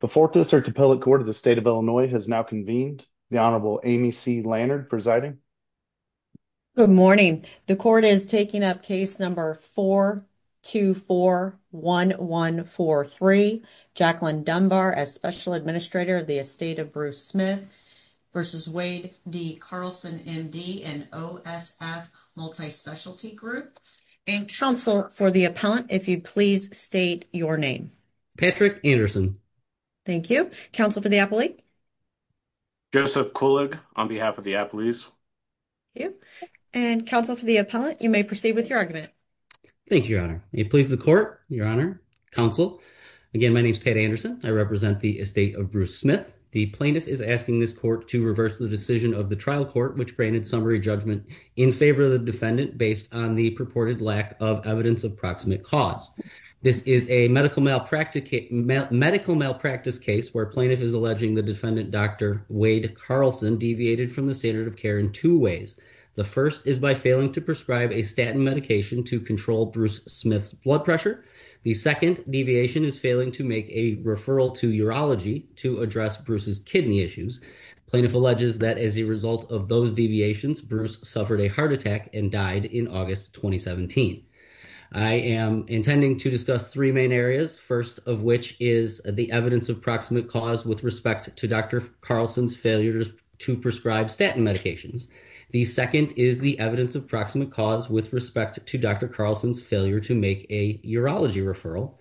The Fort DeSerte Appellate Court of the State of Illinois has now convened. The Honorable Amy C. Lannard presiding. Good morning, the court is taking up case number 4241143, Jacqueline Dunbar as special administrator of the estate of Bruce Smith versus Wade D. Carlson, MD, an OSF multi-specialty group, and counsel for the appellant, if you please state your name. Patrick Anderson. Thank you. Counsel for the appellate? Joseph Kulig on behalf of the appellate. And counsel for the appellant, you may proceed with your argument. Thank you, your honor. It pleases the court, your honor, counsel. Again, my name is Pat Anderson. I represent the estate of Bruce Smith. The plaintiff is asking this court to reverse the decision of the trial court, which granted summary judgment in favor of the defendant based on the purported lack of evidence of proximate cause. This is a medical malpractice case where plaintiff is alleging the defendant, Dr. Wade Carlson, deviated from the standard of care in two ways. The first is by failing to prescribe a statin medication to control Bruce Smith's blood pressure. The second deviation is failing to make a referral to urology to address Bruce's kidney issues. Plaintiff alleges that as a result of those deviations, Bruce suffered a heart attack and died in August 2017. I am intending to discuss three main areas, first of which is the evidence of proximate cause with respect to Dr. Carlson's failures to prescribe statin medications. The second is the evidence of proximate cause with respect to Dr. Carlson's failure to make a urology referral.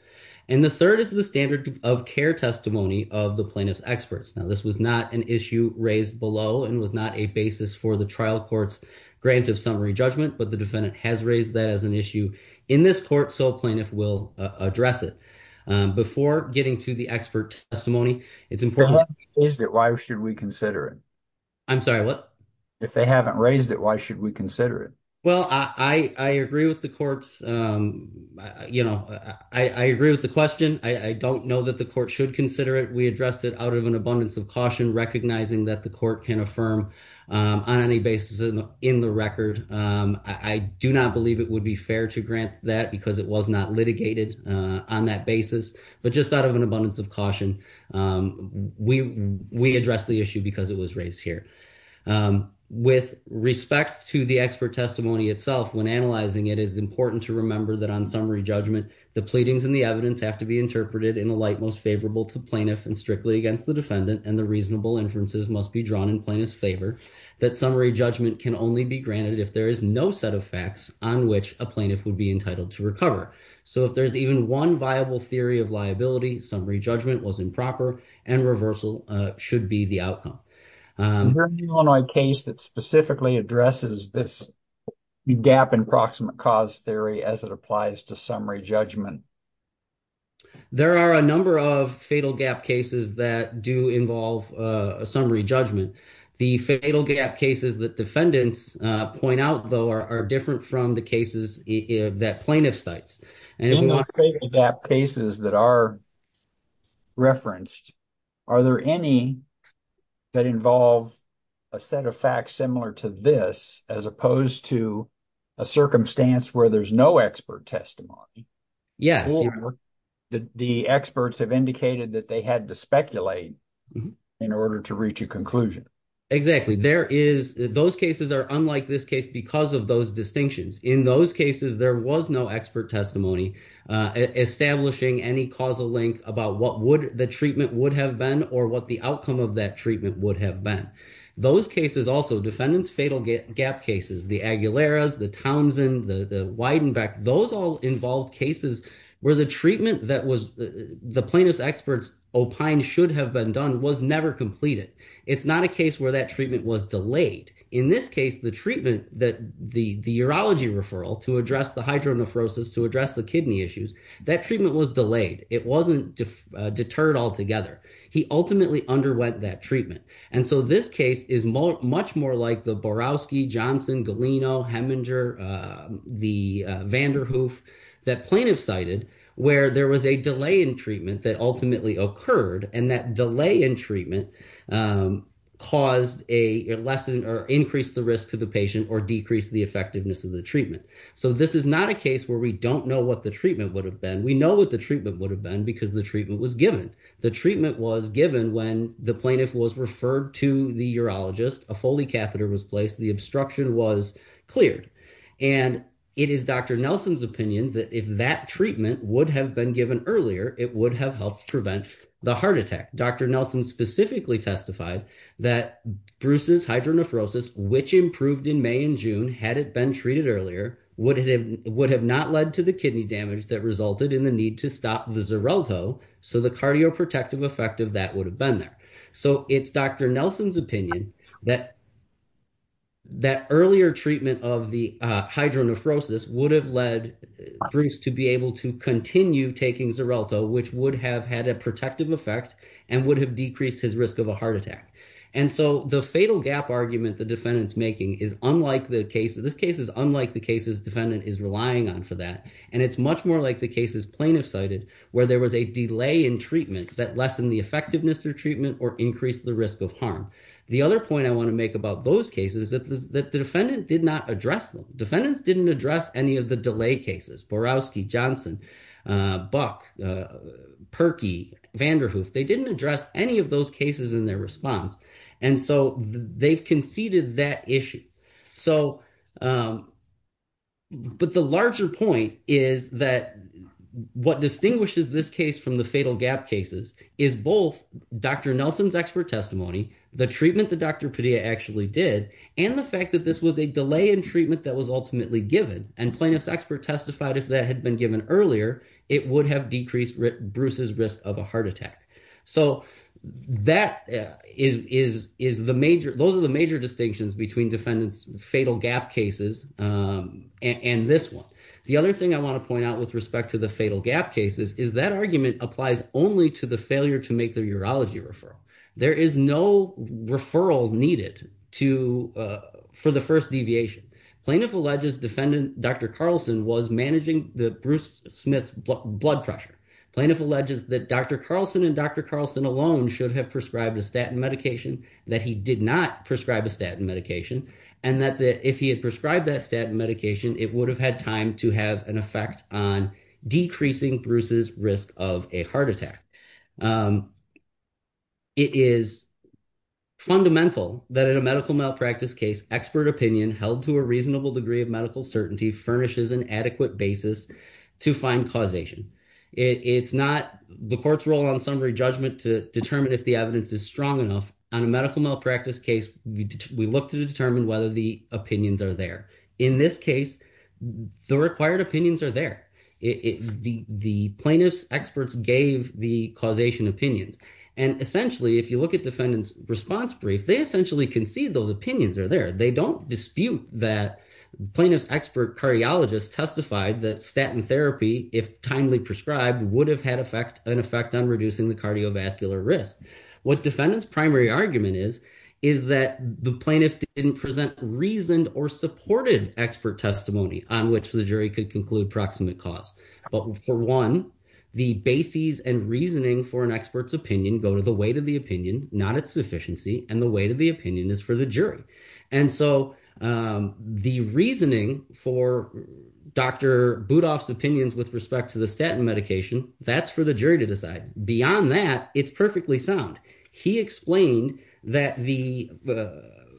And the third is the standard of care testimony of the plaintiff's experts. Now, this was not an issue raised below and was not a basis for the trial court's grant of summary judgment. But the defendant has raised that as an issue in this court. So plaintiff will address it before getting to the expert testimony. It's important. Why should we consider it? I'm sorry, what? If they haven't raised it, why should we consider it? Well, I agree with the courts. You know, I agree with the question. I don't know that the court should consider it. We addressed it out of an abundance of caution, recognizing that the court can affirm on any basis in the record. I do not believe it would be fair to grant that because it was not litigated on that basis. But just out of an abundance of caution, we we address the issue because it was raised here with respect to the expert testimony itself. When analyzing it is important to remember that on summary judgment, the pleadings and the evidence have to be interpreted in the light most favorable to plaintiff and strictly against the defendant. And the reasonable inferences must be drawn in plaintiff's favor. That summary judgment can only be granted if there is no set of facts on which a plaintiff would be entitled to recover. So if there's even one viable theory of liability, summary judgment was improper and reversal should be the outcome. Is there any Illinois case that specifically addresses this gap in proximate cause theory as it applies to summary judgment? There are a number of fatal gap cases that do involve a summary judgment. The fatal gap cases that defendants point out, though, are different from the cases that plaintiff cites. In the fatal gap cases that are referenced, are there any that involve a set of facts similar to this as opposed to a circumstance where there's no expert testimony? Yes. Or the experts have indicated that they had to speculate in order to reach a conclusion. Exactly. There is those cases are unlike this case because of those distinctions. In those cases, there was no expert testimony establishing any causal link about what would the treatment would have been or what the outcome of that treatment would have been. Those cases also defendants fatal gap cases, the Aguileras, the Townsend, the Weidenbeck, those all involved cases where the treatment that was the plaintiff's experts opined should have been done was never completed. It's not a case where that treatment was delayed. In this case, the treatment that the urology referral to address the hydronephrosis, to address the kidney issues, that treatment was delayed. It wasn't deterred altogether. He ultimately underwent that treatment. And so this case is much more like the Borowski, Johnson, Galeno, Heminger, the Vanderhoof that plaintiff cited where there was a delay in treatment that ultimately occurred. And that delay in treatment caused a lesson or increased the risk to the patient or decreased the effectiveness of the treatment. So this is not a case where we don't know what the treatment would have been. We know what the treatment would have been because the treatment was given. The treatment was given when the plaintiff was referred to the urologist, a Foley catheter was placed, the obstruction was cleared. And it is Dr. Nelson's opinion that if that treatment would have been given earlier, it would have helped prevent the heart attack. Dr. Nelson specifically testified that Bruce's hydronephrosis, which improved in May and June, had it been treated earlier, would have not led to the kidney damage that resulted in the need to stop the Xarelto. So the cardioprotective effect of that would have been there. So it's Dr. Nelson's opinion that earlier treatment of the hydronephrosis would have led Bruce to be able to continue taking Xarelto, which would have had a protective effect and would have decreased his risk of a heart attack. And so the fatal gap argument the defendant's making is unlike the case. This case is unlike the cases defendant is relying on for that. And it's much more like the cases plaintiff cited where there was a delay in treatment that lessened the effectiveness of treatment or increased the risk of harm. The other point I want to make about those cases is that the defendant did not address them. Defendants didn't address any of the delay cases. Borowski, Johnson, Buck, Perkey, Vanderhoof. They didn't address any of those cases in their response. And so they've conceded that issue. So but the larger point is that what distinguishes this case from the fatal gap cases is both Dr. Nelson's expert testimony, the treatment that Dr. Padilla actually did, and the fact that this was a delay in treatment that was ultimately given and plaintiff's expert testified if that had been given earlier, it would have decreased Bruce's risk of a heart attack. So that is is is the major those are the major distinctions between defendants fatal gap cases and this one. The other thing I want to point out with respect to the fatal gap cases is that argument applies only to the failure to make the urology referral. There is no referral needed to for the first deviation. Plaintiff alleges defendant Dr. Carlson was managing the Bruce Smith's blood pressure. Plaintiff alleges that Dr. Carlson and Dr. Carlson alone should have prescribed a statin medication, that he did not prescribe a statin medication, and that if he had prescribed that statin medication, it would have had time to have an effect on decreasing Bruce's risk of a heart attack. It is fundamental that in a medical malpractice case, expert opinion held to a reasonable degree of medical certainty furnishes an adequate basis to find causation. It's not the court's role on summary judgment to determine if the evidence is strong enough on a medical malpractice case. We look to determine whether the opinions are there. In this case, the required opinions are there. It the plaintiff's experts gave the causation opinions. And essentially, if you look at defendants response brief, they essentially concede those opinions are there. They don't dispute that plaintiff's expert cardiologist testified that statin therapy, if timely prescribed, would have had an effect on reducing the cardiovascular risk. What defendants primary argument is, is that the plaintiff didn't present reasoned or supported expert testimony on which the jury could conclude proximate cause. But for one, the bases and reasoning for an expert's opinion go to the weight of the opinion, not its sufficiency. And the weight of the opinion is for the jury. And so the reasoning for Dr. Budoff's opinions with respect to the statin medication, that's for the jury to decide. Beyond that, it's perfectly sound. He explained that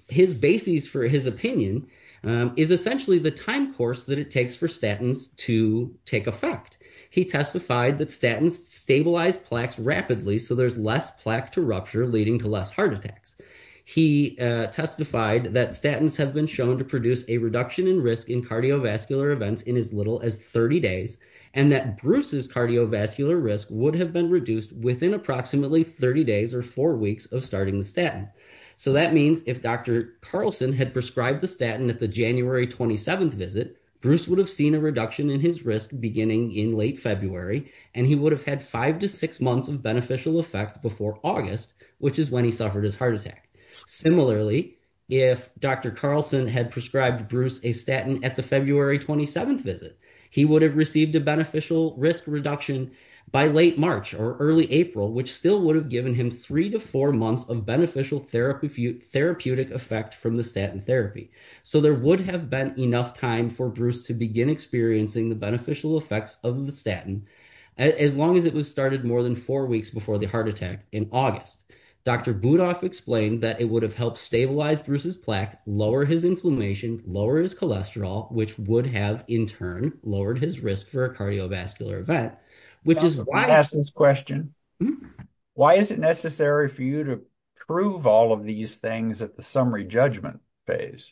his basis for his opinion is essentially the time course that it takes for statins to take effect. He testified that statins stabilize plaques rapidly, so there's less plaque to rupture, leading to less heart attacks. He testified that statins have been shown to produce a reduction in risk in cardiovascular events in as little as 30 days, and that Bruce's cardiovascular risk would have been reduced within approximately 30 days or four weeks of starting the statin. So that means if Dr. Carlson had prescribed the statin at the January 27th visit, Bruce would have seen a reduction in his risk beginning in late February. And he would have had five to six months of beneficial effect before August, which is when he suffered his heart attack. Similarly, if Dr. Carlson had prescribed Bruce a statin at the February 27th visit, he would have received a beneficial risk reduction by late March or early April, which still would have given him three to four months of beneficial therapeutic effect from the statin therapy. So there would have been enough time for Bruce to begin experiencing the beneficial effects of the statin as long as it was started more than four weeks before the heart attack in August. Dr. Budoff explained that it would have helped stabilize Bruce's plaque, lower his inflammation, lower his cholesterol, which would have, in turn, lowered his risk for a cardiovascular event, which is why I ask this question. Why is it necessary for you to prove all of these things at the summary judgment phase?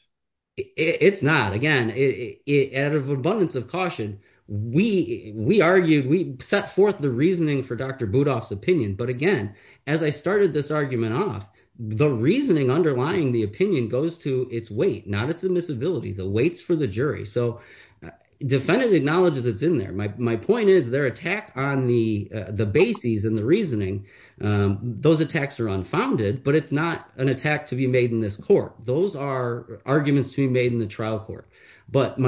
It's not. Again, out of abundance of caution, we argued, we set forth the reasoning for Dr. Budoff's opinion. But again, as I started this argument off, the reasoning underlying the opinion goes to its weight, not its admissibility, the weights for the jury. So defendant acknowledges it's in there. My point is their attack on the bases and the reasoning, those attacks are unfounded, but it's not an attack to be made in this court. Those are arguments to be made in the trial court. But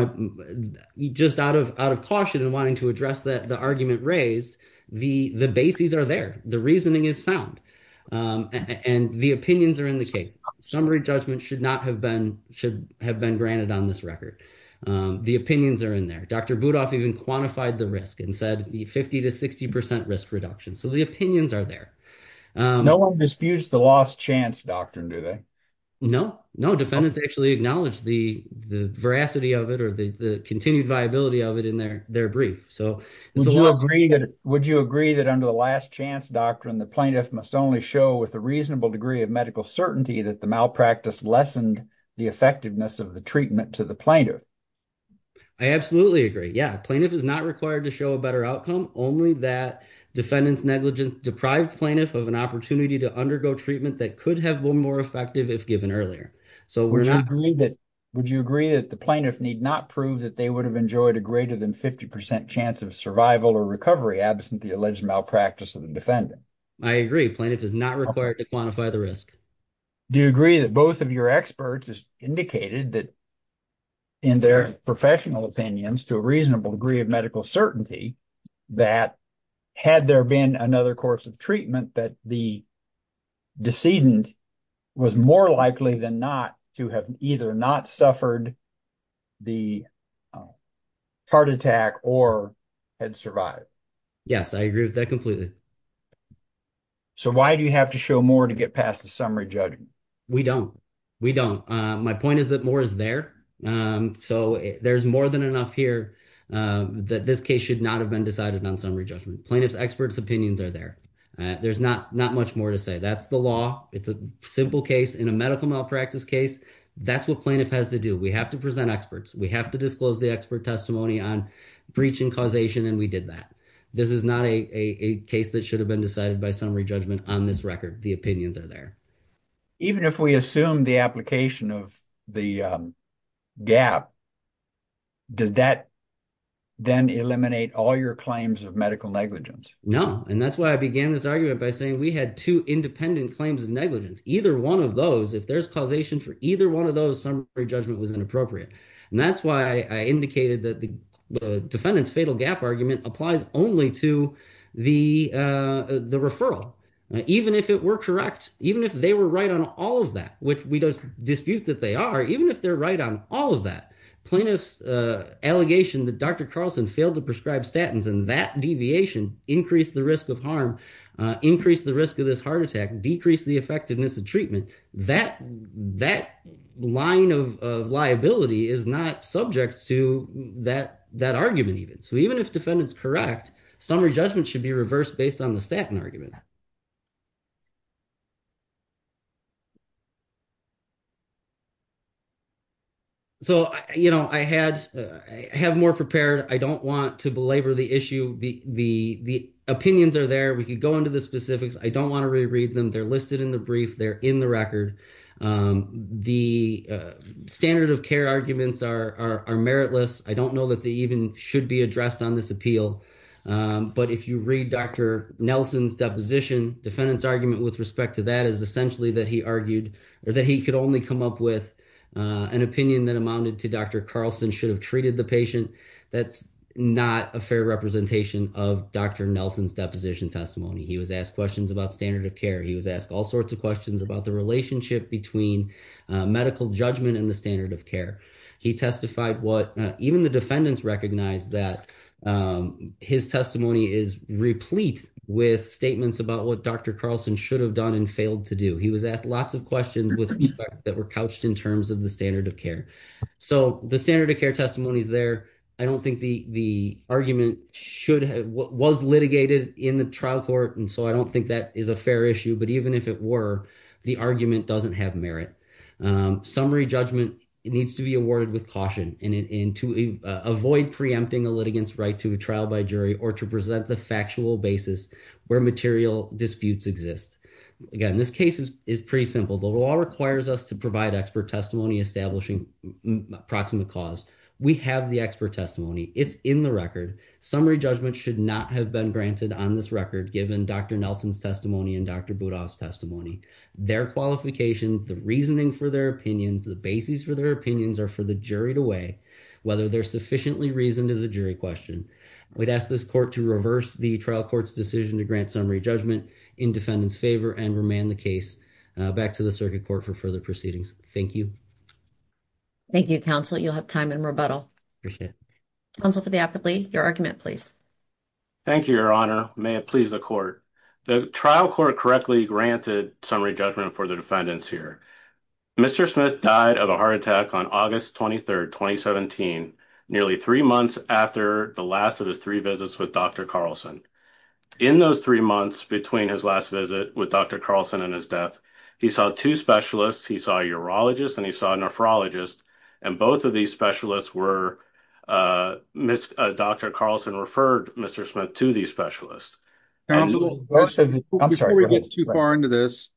just out of caution and wanting to address the argument raised, the bases are there. The reasoning is sound. And the opinions are in the case. Summary judgment should not have been granted on this record. The opinions are in there. Dr. Budoff even quantified the risk and said the 50 to 60 percent risk reduction. So the opinions are there. No one disputes the last chance doctrine, do they? No, no. Defendants actually acknowledge the veracity of it or the continued viability of it in their brief. So would you agree that under the last chance doctrine, the plaintiff must only show with a reasonable degree of medical certainty that the malpractice lessened the effectiveness of the treatment to the plaintiff? I absolutely agree. Yeah. Plaintiff is not required to show a better outcome, only that defendant's negligence deprived plaintiff of an opportunity to undergo treatment that could have been more effective if given earlier. So would you agree that the plaintiff need not prove that they would have enjoyed a greater than 50 percent chance of survival or recovery absent the alleged malpractice of the defendant? I agree. Plaintiff is not required to quantify the risk. Do you agree that both of your experts has indicated that in their professional opinions to a reasonable degree of medical certainty that had there been another course of treatment that the decedent was more likely than not to have either not suffered the heart attack or had survived? Yes, I agree with that completely. So why do you have to show more to get past the summary judgment? We don't. We don't. My point is that more is there. So there's more than enough here that this case should not have been decided on summary judgment. Plaintiff's experts opinions are there. There's not much more to say. That's the law. It's a simple case in a medical malpractice case. That's what plaintiff has to do. We have to present experts. We have to disclose the expert testimony on breach and causation. And we did that. This is not a case that should have been decided by summary judgment on this record. The opinions are there. Even if we assume the application of the gap, did that then eliminate all your claims of medical negligence? No. And that's why I began this argument by saying we had two independent claims of negligence. Either one of those, if there's causation for either one of those, summary judgment was inappropriate. And that's why I indicated that the defendant's fatal gap argument applies only to the referral. Even if it were correct, even if they were right on all of that, which we dispute that they are, even if they're right on all of that, plaintiff's allegation that Dr. Carlson failed to prescribe statins and that deviation increased the risk of harm, increased the risk of this heart attack, decreased the effectiveness of treatment. That line of liability is not subject to that argument even. So even if defendant's correct, summary judgment should be reversed based on the statin argument. So I have more prepared. I don't want to belabor the issue. The opinions are there. We could go into the specifics. I don't want to reread them. They're listed in the brief. They're in the record. The standard of care arguments are meritless. I don't know that they even should be addressed on this appeal. But if you read Dr. Nelson's deposition, defendant's argument with respect to that is essentially that he argued or that he could only come up with an opinion that amounted to Dr. Carlson should have treated the patient. That's not a fair representation of Dr. Nelson's deposition testimony. He was asked questions about standard of care. He was asked all sorts of questions about the relationship between medical judgment and the standard of care. He testified what even the defendants recognized that his testimony is replete with statements about what Dr. Carlson should have done and failed to do. He was asked lots of questions with feedback that were couched in terms of the standard of care. So the standard of care testimony is there. I don't think the argument was litigated in the trial court. So I don't think that is a fair issue. But even if it were, the argument doesn't have merit. Summary judgment needs to be awarded with caution and to avoid preempting a litigant's right to a trial by jury or to present the factual basis where material disputes exist. Again, this case is pretty simple. The law requires us to provide expert testimony establishing proximate cause. We have the expert testimony. It's in the record. Summary judgment should not have been granted on this record given Dr. Nelson's testimony and Dr. Budoff's testimony. Their qualification, the reasoning for their opinions, the basis for their opinions are for the jury to weigh whether they're sufficiently reasoned as a jury question. I would ask this court to reverse the trial court's decision to grant summary judgment in defendant's favor and remand the case back to the circuit court for further proceedings. Thank you. Thank you, counsel. You'll have time in rebuttal. Appreciate it. Your argument, please. Thank you, Your Honor. May it please the court. The trial court correctly granted summary judgment for the defendants here. Mr. Smith died of a heart attack on August 23, 2017, nearly three months after the last of his three visits with Dr. Carlson. In those three months between his last visit with Dr. Carlson and his death, he saw two specialists. He saw a urologist and he saw a nephrologist. And both of these specialists were, Dr. Carlson referred Mr. Smith to these specialists. I'm sorry. Before we get too far into this,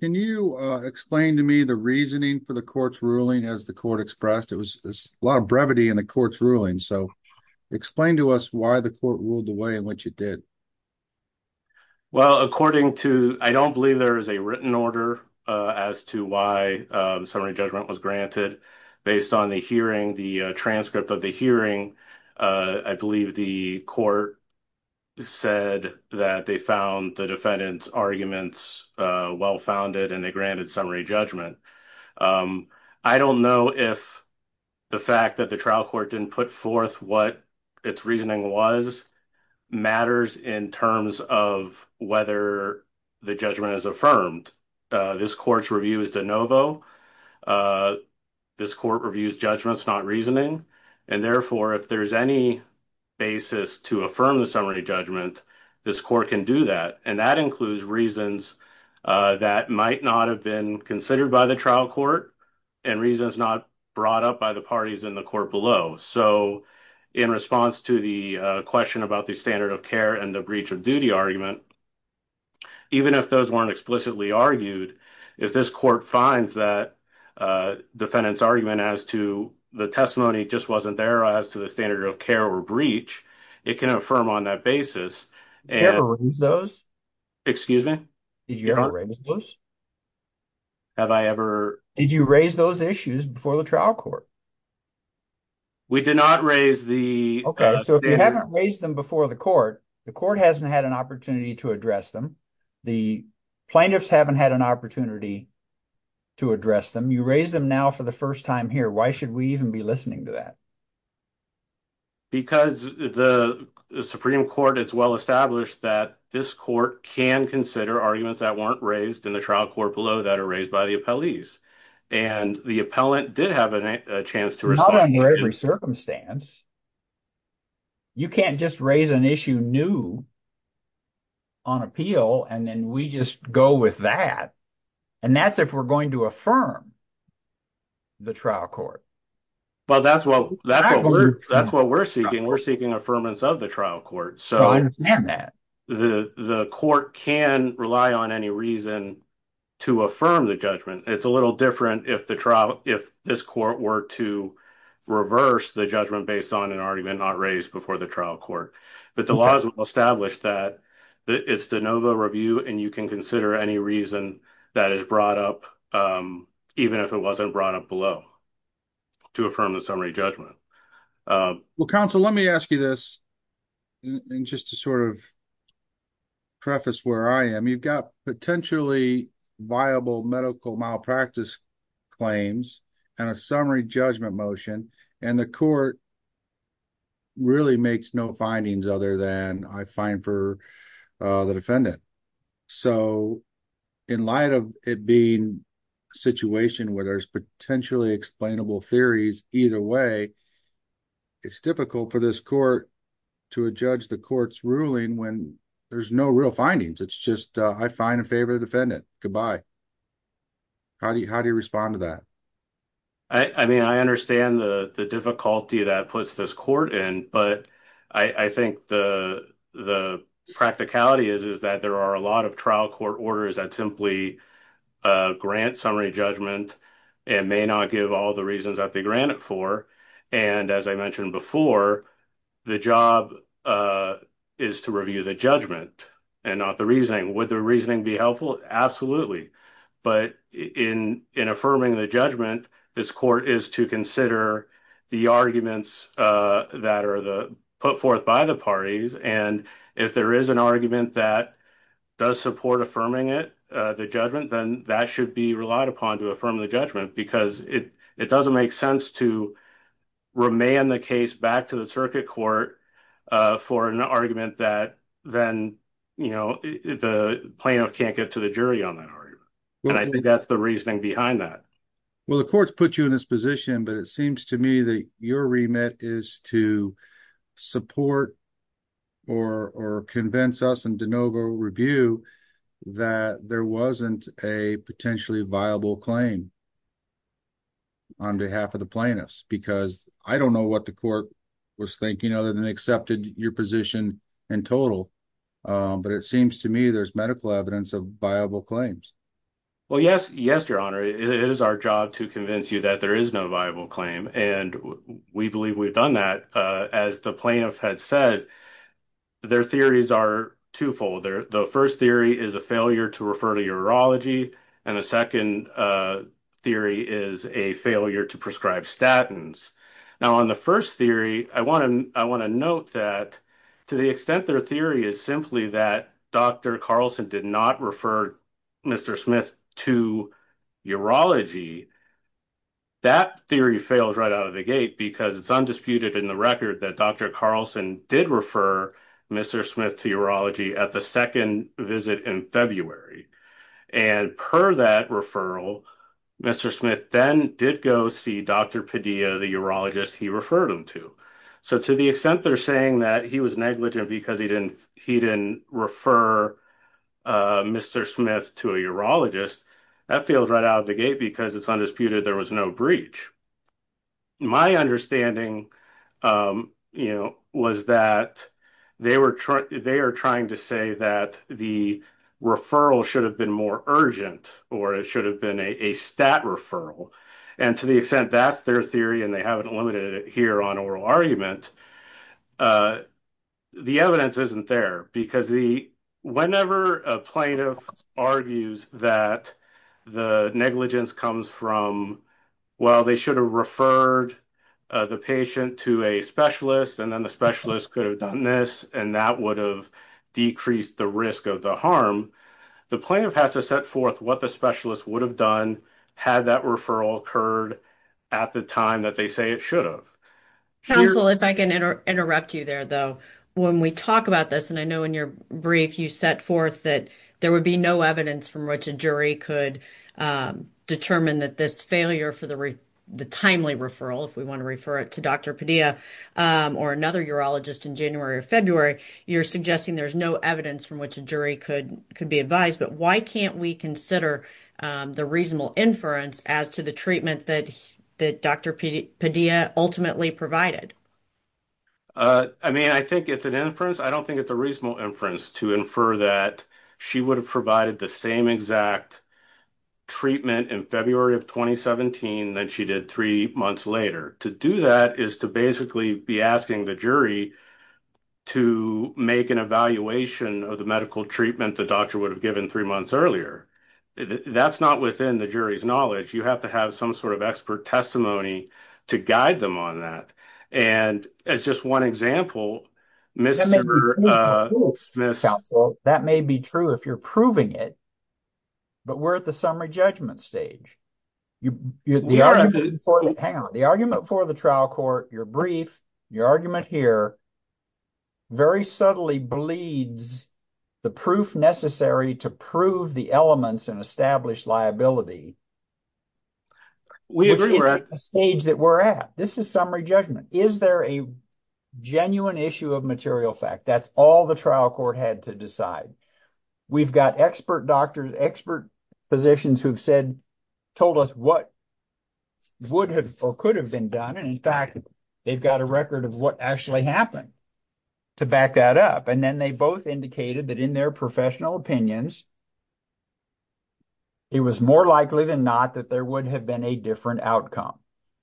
can you explain to me the reasoning for the court's ruling as the court expressed? It was a lot of brevity in the court's ruling. So explain to us why the court ruled the way in which it did. Well, according to, I don't believe there is a written order as to why summary judgment was granted. Based on the hearing, the transcript of the hearing, I believe the court said that they found the defendant's arguments well-founded and they granted summary judgment. I don't know if the fact that the trial court didn't put forth what its reasoning was matters in terms of whether the judgment is affirmed. This court's review is de novo. This court reviews judgments, not reasoning. And therefore, if there's any basis to affirm the summary judgment, this court can do that. And that includes reasons that might not have been considered by the trial court and reasons not brought up by the parties in the court below. So in response to the question about the standard of care and the breach of duty argument, even if those weren't explicitly argued, if this court finds that defendant's argument as to the testimony just wasn't there as to the standard of care or breach, it can affirm on that basis. Did you ever raise those? Excuse me? Did you ever raise those? Have I ever? Did you raise those issues before the trial court? We did not raise the... Okay, so if you haven't raised them before the court, the court hasn't had an opportunity to address them. The plaintiffs haven't had an opportunity to address them. You raised them now for the first time here. Why should we even be listening to that? Because the Supreme Court, it's well established that this court can consider arguments that weren't raised in the trial court below that are raised by the appellees. And the appellant did have a chance to respond. Not under every circumstance. You can't just raise an issue new on appeal, and then we just go with that. And that's if we're going to affirm the trial court. But that's what we're seeking. We're seeking affirmance of the trial court. So I understand that. The court can rely on any reason to affirm the judgment. It's a little different if this court were to reverse the judgment based on the trial court. But the law is well established that it's de novo review, and you can consider any reason that is brought up, even if it wasn't brought up below, to affirm the summary judgment. Well, counsel, let me ask you this. And just to sort of preface where I am, you've got potentially viable medical malpractice claims and a summary judgment motion. And the court really makes no findings other than I find for the defendant. So in light of it being a situation where there's potentially explainable theories either way, it's difficult for this court to adjudge the court's ruling when there's no real findings. It's just I find in favor of the defendant. Goodbye. How do you respond to that? I mean, I understand the difficulty that puts this court in, but I think the practicality is that there are a lot of trial court orders that simply grant summary judgment and may not give all the reasons that they grant it for. And as I mentioned before, the job is to review the judgment and not the reasoning. Would the reasoning be helpful? Absolutely. But in affirming the judgment, this court is to consider the arguments that are put forth by the parties. And if there is an argument that does support affirming it, the judgment, then that should be relied upon to affirm the judgment, because it doesn't make sense to remand the case back to the circuit court for an argument that then the plaintiff can't get to the I think that's the reasoning behind that. Well, the courts put you in this position, but it seems to me that your remit is to support or convince us and DeNovo review that there wasn't a potentially viable claim on behalf of the plaintiffs, because I don't know what the court was thinking other than accepted your position in total. But it seems to me there's medical evidence of viable claims. Well, yes, yes, Your Honor, it is our job to convince you that there is no viable claim, and we believe we've done that. As the plaintiff had said, their theories are twofold. The first theory is a failure to refer to urology, and the second theory is a failure to prescribe statins. Now, on the first theory, I want to I want to note that to the extent their theory is that Dr. Carlson did not refer Mr. Smith to urology, that theory fails right out of the gate, because it's undisputed in the record that Dr. Carlson did refer Mr. Smith to urology at the second visit in February, and per that referral, Mr. Smith then did go see Dr. Padilla, the urologist he referred him to. So to the extent they're saying that he was negligent because he didn't refer Mr. Smith to a urologist, that fails right out of the gate, because it's undisputed there was no breach. My understanding, you know, was that they are trying to say that the referral should have been more urgent, or it should have been a stat referral, and to the extent that's their theory, and they haven't limited it here on oral argument, the evidence isn't there, because the whenever a plaintiff argues that the negligence comes from, well, they should have referred the patient to a specialist, and then the specialist could have done this, and that would have decreased the risk of the harm. The plaintiff has to set forth what the specialist would have done had that referral occurred at the time that they say it should have. Counsel, if I can interrupt you there, though, when we talk about this, and I know in your brief you set forth that there would be no evidence from which a jury could determine that this failure for the timely referral, if we want to refer it to Dr. Padilla or another urologist in January or February, you're suggesting there's no evidence from which a jury could be advised, but why can't we consider the reasonable inference as to the treatment that Dr. Padilla ultimately provided? I mean, I think it's an inference. I don't think it's a reasonable inference to infer that she would have provided the same exact treatment in February of 2017 than she did three months later. To do that is to basically be asking the jury to make an evaluation of the medical treatment the doctor would have given three months earlier. That's not within the jury's knowledge. You have to have some sort of expert testimony to guide them on that. And as just one example, Mr. Smith. That may be true if you're proving it, but we're at the summary judgment stage. Hang on. The argument for the trial court, your brief, your argument here, very subtly bleeds the proof necessary to prove the elements and establish liability. We agree we're at a stage that we're at. This is summary judgment. Is there a genuine issue of material fact? That's all the trial court had to decide. We've got expert doctors, expert physicians who've said, told us what would have or could have been done. And in fact, they've got a record of what actually happened to back that up. Then they both indicated that in their professional opinions, it was more likely than not that there would have been a different outcome.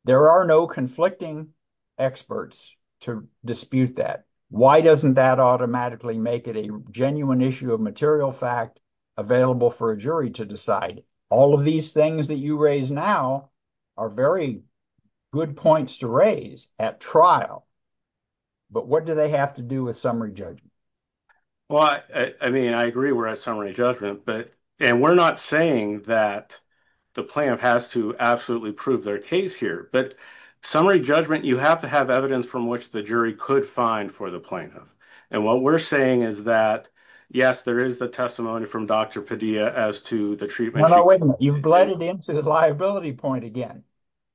There are no conflicting experts to dispute that. Why doesn't that automatically make it a genuine issue of material fact available for a jury to decide? All of these things that you raise now are very good points to raise at trial. But what do they have to do with summary judgment? Well, I mean, I agree we're at summary judgment. And we're not saying that the plaintiff has to absolutely prove their case here. But summary judgment, you have to have evidence from which the jury could find for the plaintiff. And what we're saying is that, yes, there is the testimony from Dr. Padilla as to the treatment. You've bled it into the liability point again.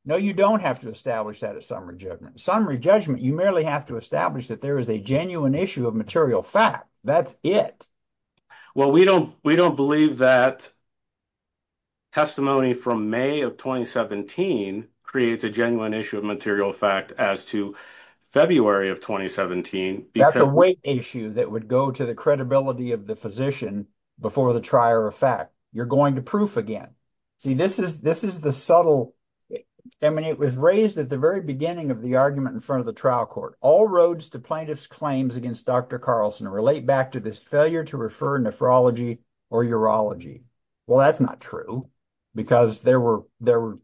No, you don't have to establish that as summary judgment. Summary judgment, you merely have to establish that there is a genuine issue of material fact. That's it. Well, we don't believe that testimony from May of 2017 creates a genuine issue of material fact as to February of 2017. That's a weight issue that would go to the credibility of the physician before the trier of fact. You're going to proof again. See, this is the subtle, I mean, it was raised at the very beginning of the argument in front of the trial court. All roads to plaintiff's claims against Dr. Carlson relate back to this failure to refer nephrology or urology. Well, that's not true because there were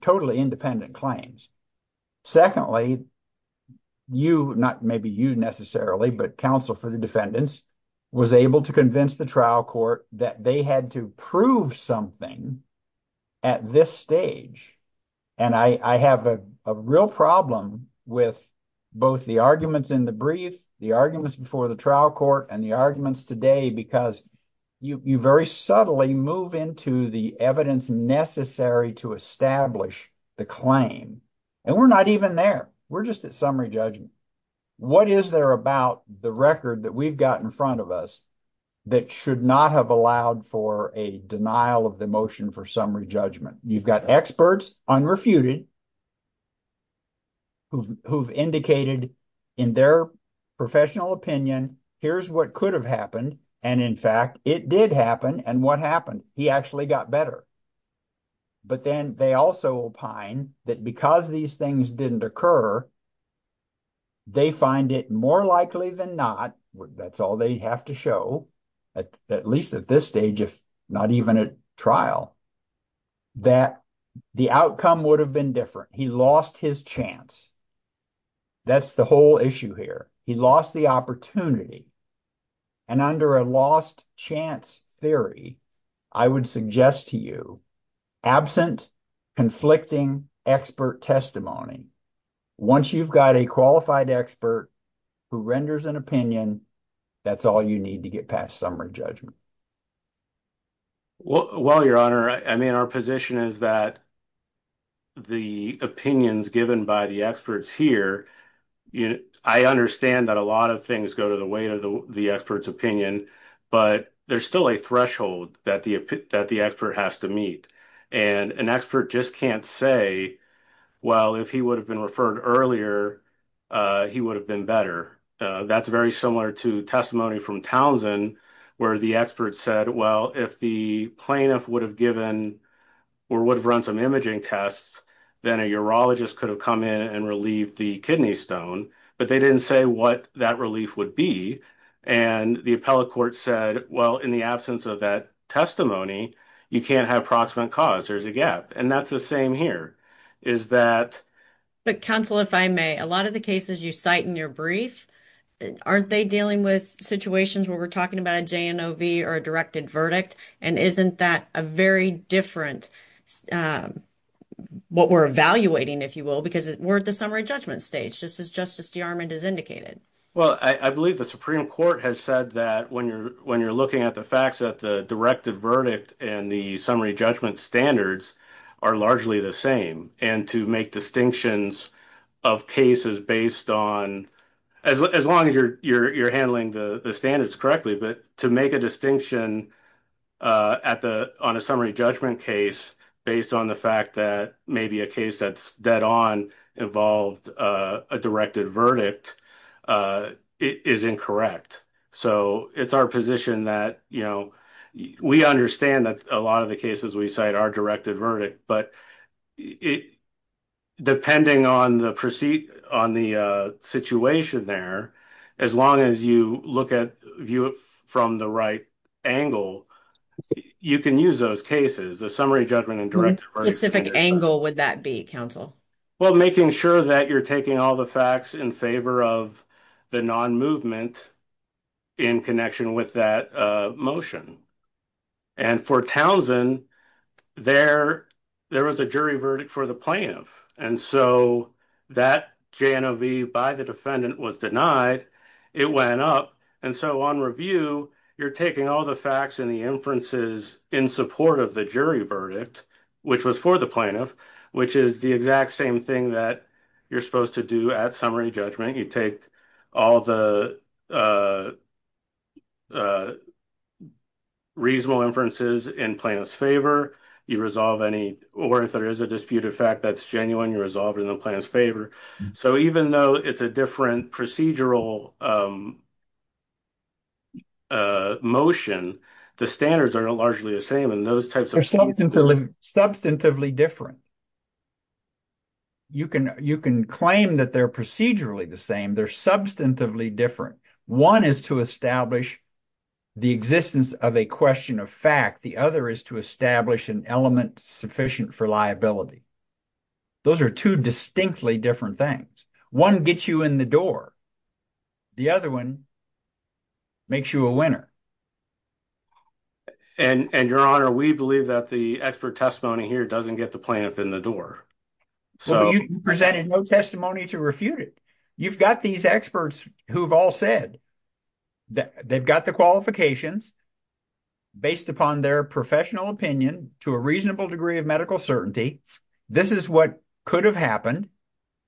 totally independent claims. Secondly, you, not maybe you necessarily, but counsel for the defendants, was able to convince the trial court that they had to prove something at this stage. And I have a real problem with both the arguments in the brief, the arguments before the trial court, and the arguments today because you very subtly move into the evidence necessary to establish the claim. And we're not even there. We're just at summary judgment. What is there about the record that we've got in front of us that should not have allowed for a denial of the motion for summary judgment? You've got experts unrefuted who've indicated in their professional opinion, here's what could have happened. And in fact, it did happen. And what happened? He actually got better. But then they also opine that because these things didn't occur, they find it more likely than not. That's all they have to show, at least at this stage, if not even at trial. That the outcome would have been different. He lost his chance. That's the whole issue here. He lost the opportunity. And under a lost chance theory, I would suggest to you, absent conflicting expert testimony. Once you've got a qualified expert who renders an opinion, that's all you need to get past summary judgment. Well, your honor, I mean, our position is that the opinions given by the experts here, I understand that a lot of things go to the weight of the expert's opinion, but there's still a threshold that the expert has to meet. And an expert just can't say, well, if he would have been referred earlier, he would have been better. That's very similar to testimony from Townsend, where the expert said, well, if the plaintiff would have given or would have run some imaging tests, then a urologist could have come in and relieved the kidney stone. But they didn't say what that relief would be. And the appellate court said, well, in the absence of that testimony, you can't have proximate cause. There's a gap. And that's the same here. Is that... But counsel, if I may, a lot of the cases you cite in your brief, aren't they dealing with situations where we're talking about a JNOV or a directed verdict? And isn't that a very different, what we're evaluating, if you will, because we're at the summary judgment stage, just as Justice DeArmond has indicated? Well, I believe the Supreme Court has said that when you're looking at the facts that the directed verdict and the summary judgment standards are largely the same. And to make distinctions of cases based on, as long as you're handling the standards correctly, but to make a distinction on a summary judgment case based on the fact that maybe a case that's dead on involved a directed verdict is incorrect. So it's our position that, you know, we understand that a lot of the cases we cite are directed verdict, but depending on the situation there, as long as you look at, view it from the right angle, you can use those cases, the summary judgment and directed verdict. What specific angle would that be, counsel? Well, making sure that you're taking all the facts in favor of the non-movement in connection with that motion. And for Townsend, there was a jury verdict for the plaintiff. And so that JNOV by the defendant was denied, it went up. And so on review, you're taking all the facts and the inferences in support of the jury verdict, which was for the plaintiff, which is the exact same thing that you're supposed to do at summary judgment. You take all the reasonable inferences in plaintiff's favor, you resolve any, or if there is a disputed fact that's genuine, you resolve it in the plaintiff's favor. So even though it's a different procedural motion, the standards are largely the same in those types of cases. Substantively different. You can claim that they're procedurally the same, they're substantively different. One is to establish the existence of a question of fact, the other is to establish an element sufficient for liability. Those are two distinctly different things. One gets you in the door, the other one makes you a winner. And your honor, we believe that the expert testimony here doesn't get the plaintiff in the door. Well, you presented no testimony to refute it. You've got these experts who've all said that they've got the qualifications based upon their professional opinion to a reasonable degree of medical certainty. This is what could have happened,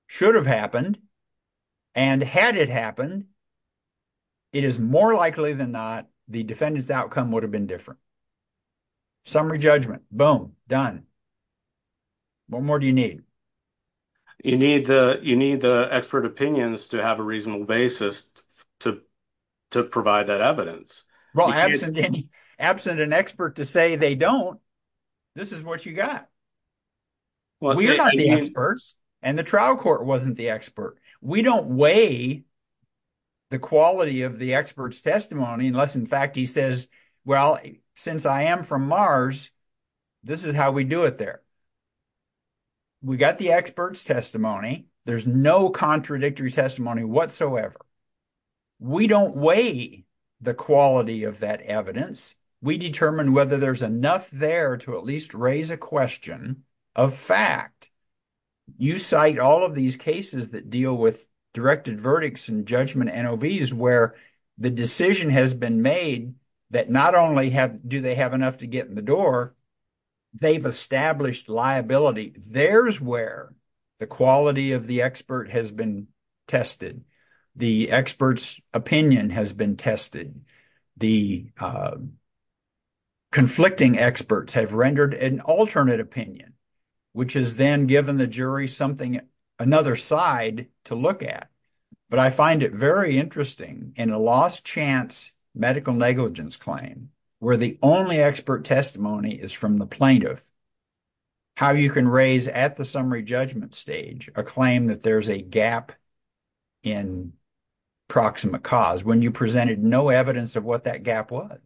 should have happened, and had it happened, it is more likely than not the defendant's outcome would have been different. Summary judgment, boom, done. What more do you need? You need the expert opinions to have a reasonable basis to provide that evidence. Well, absent an expert to say they don't, this is what you got. We're not the experts, and the trial court wasn't the expert. We don't weigh the quality of the expert's testimony unless, in fact, he says, well, since I am from Mars, this is how we do it there. We got the expert's testimony. There's no contradictory testimony whatsoever. We don't weigh the quality of that evidence. We determine whether there's enough there to at least raise a question of fact. You cite all of these cases that deal with directed verdicts and judgment NOVs where the decision has been made that not only do they have enough to get in the door, they've established liability. There's where the quality of the expert has been tested. The expert's opinion has been tested. The conflicting experts have rendered an alternate opinion, which has then given the jury something, another side to look at. But I find it very interesting in a lost chance medical negligence claim, where the only expert testimony is from the plaintiff, how you can raise at the summary judgment stage a claim that there's a gap in proximate cause when you presented no evidence of what that gap was.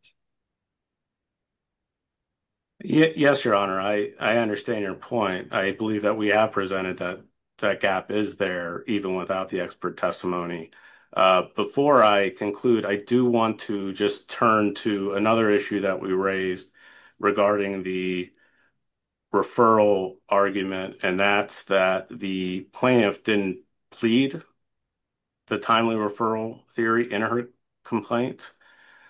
Yes, Your Honor, I understand your point. I believe that we have presented that gap is there even without the expert testimony. Before I conclude, I do want to just turn to another issue that we raised regarding the referral argument, and that's that the plaintiff didn't plead the timely referral theory in her complaint.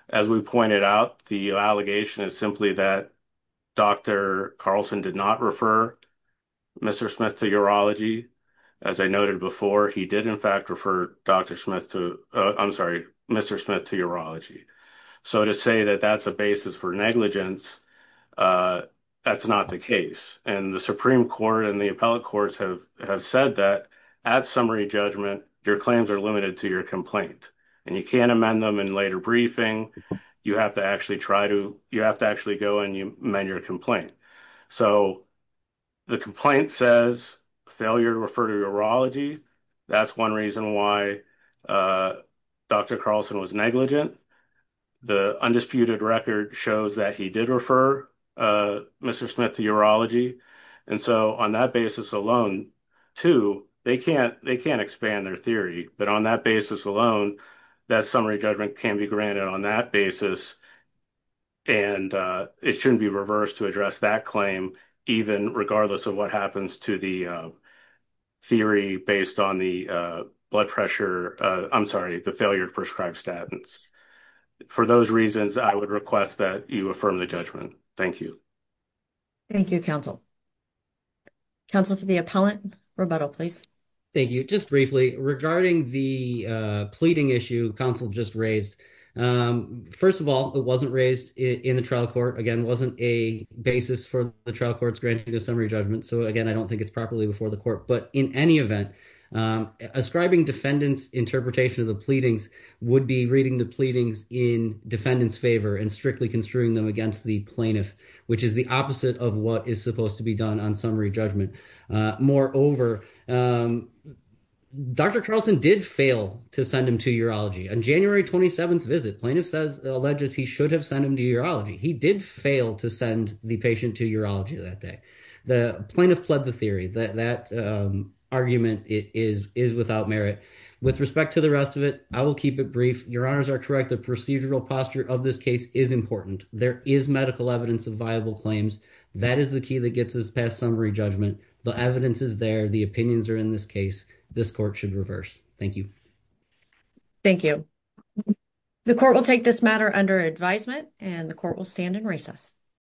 As we pointed out, the allegation is simply that Dr. Carlson did not refer Mr. Smith to urology. As I noted before, he did, in fact, refer Dr. Smith to, I'm sorry, Mr. Smith to urology. So to say that that's a basis for negligence, that's not the case. And the Supreme Court and the appellate courts have said that at summary judgment, your claims are limited to your complaint, and you can't amend them in later briefing. You have to actually go and amend your complaint. So the complaint says failure to refer to urology. That's one reason why Dr. Carlson was negligent. The undisputed record shows that he did refer Mr. Smith to urology. And so on that basis alone, too, they can't expand their theory. But on that basis alone, that summary judgment can be granted on that basis, and it shouldn't be reversed to address that claim, even regardless of what happens to the theory based on the blood pressure, I'm sorry, the failure to prescribe statins. For those reasons, I would request that you affirm the judgment. Thank you. Thank you, counsel. Counsel for the appellant, rebuttal, please. Thank you. Just briefly, regarding the pleading issue counsel just raised. First of all, it wasn't raised in the trial court. Again, it wasn't a basis for the trial courts granting the summary judgment. So again, I don't think it's properly before the court. But in any event, ascribing defendants' interpretation of the pleadings would be reading the pleadings in defendants' favor and strictly construing them against the plaintiff, which is the opposite of what is supposed to be done on summary judgment. Moreover, Dr. Carlson did fail to send him to urology. On January 27th visit, plaintiff alleges he should have sent him to urology. He did fail to send the patient to urology that day. The plaintiff pled the theory that that argument is without merit. With respect to the rest of it, I will keep it brief. Your honors are correct. The procedural posture of this case is important. There is medical evidence of viable claims. That is the key that gets us past summary judgment. The evidence is there. The opinions are in this case. This court should reverse. Thank you. Thank you. The court will take this matter under advisement and the court will stand in recess.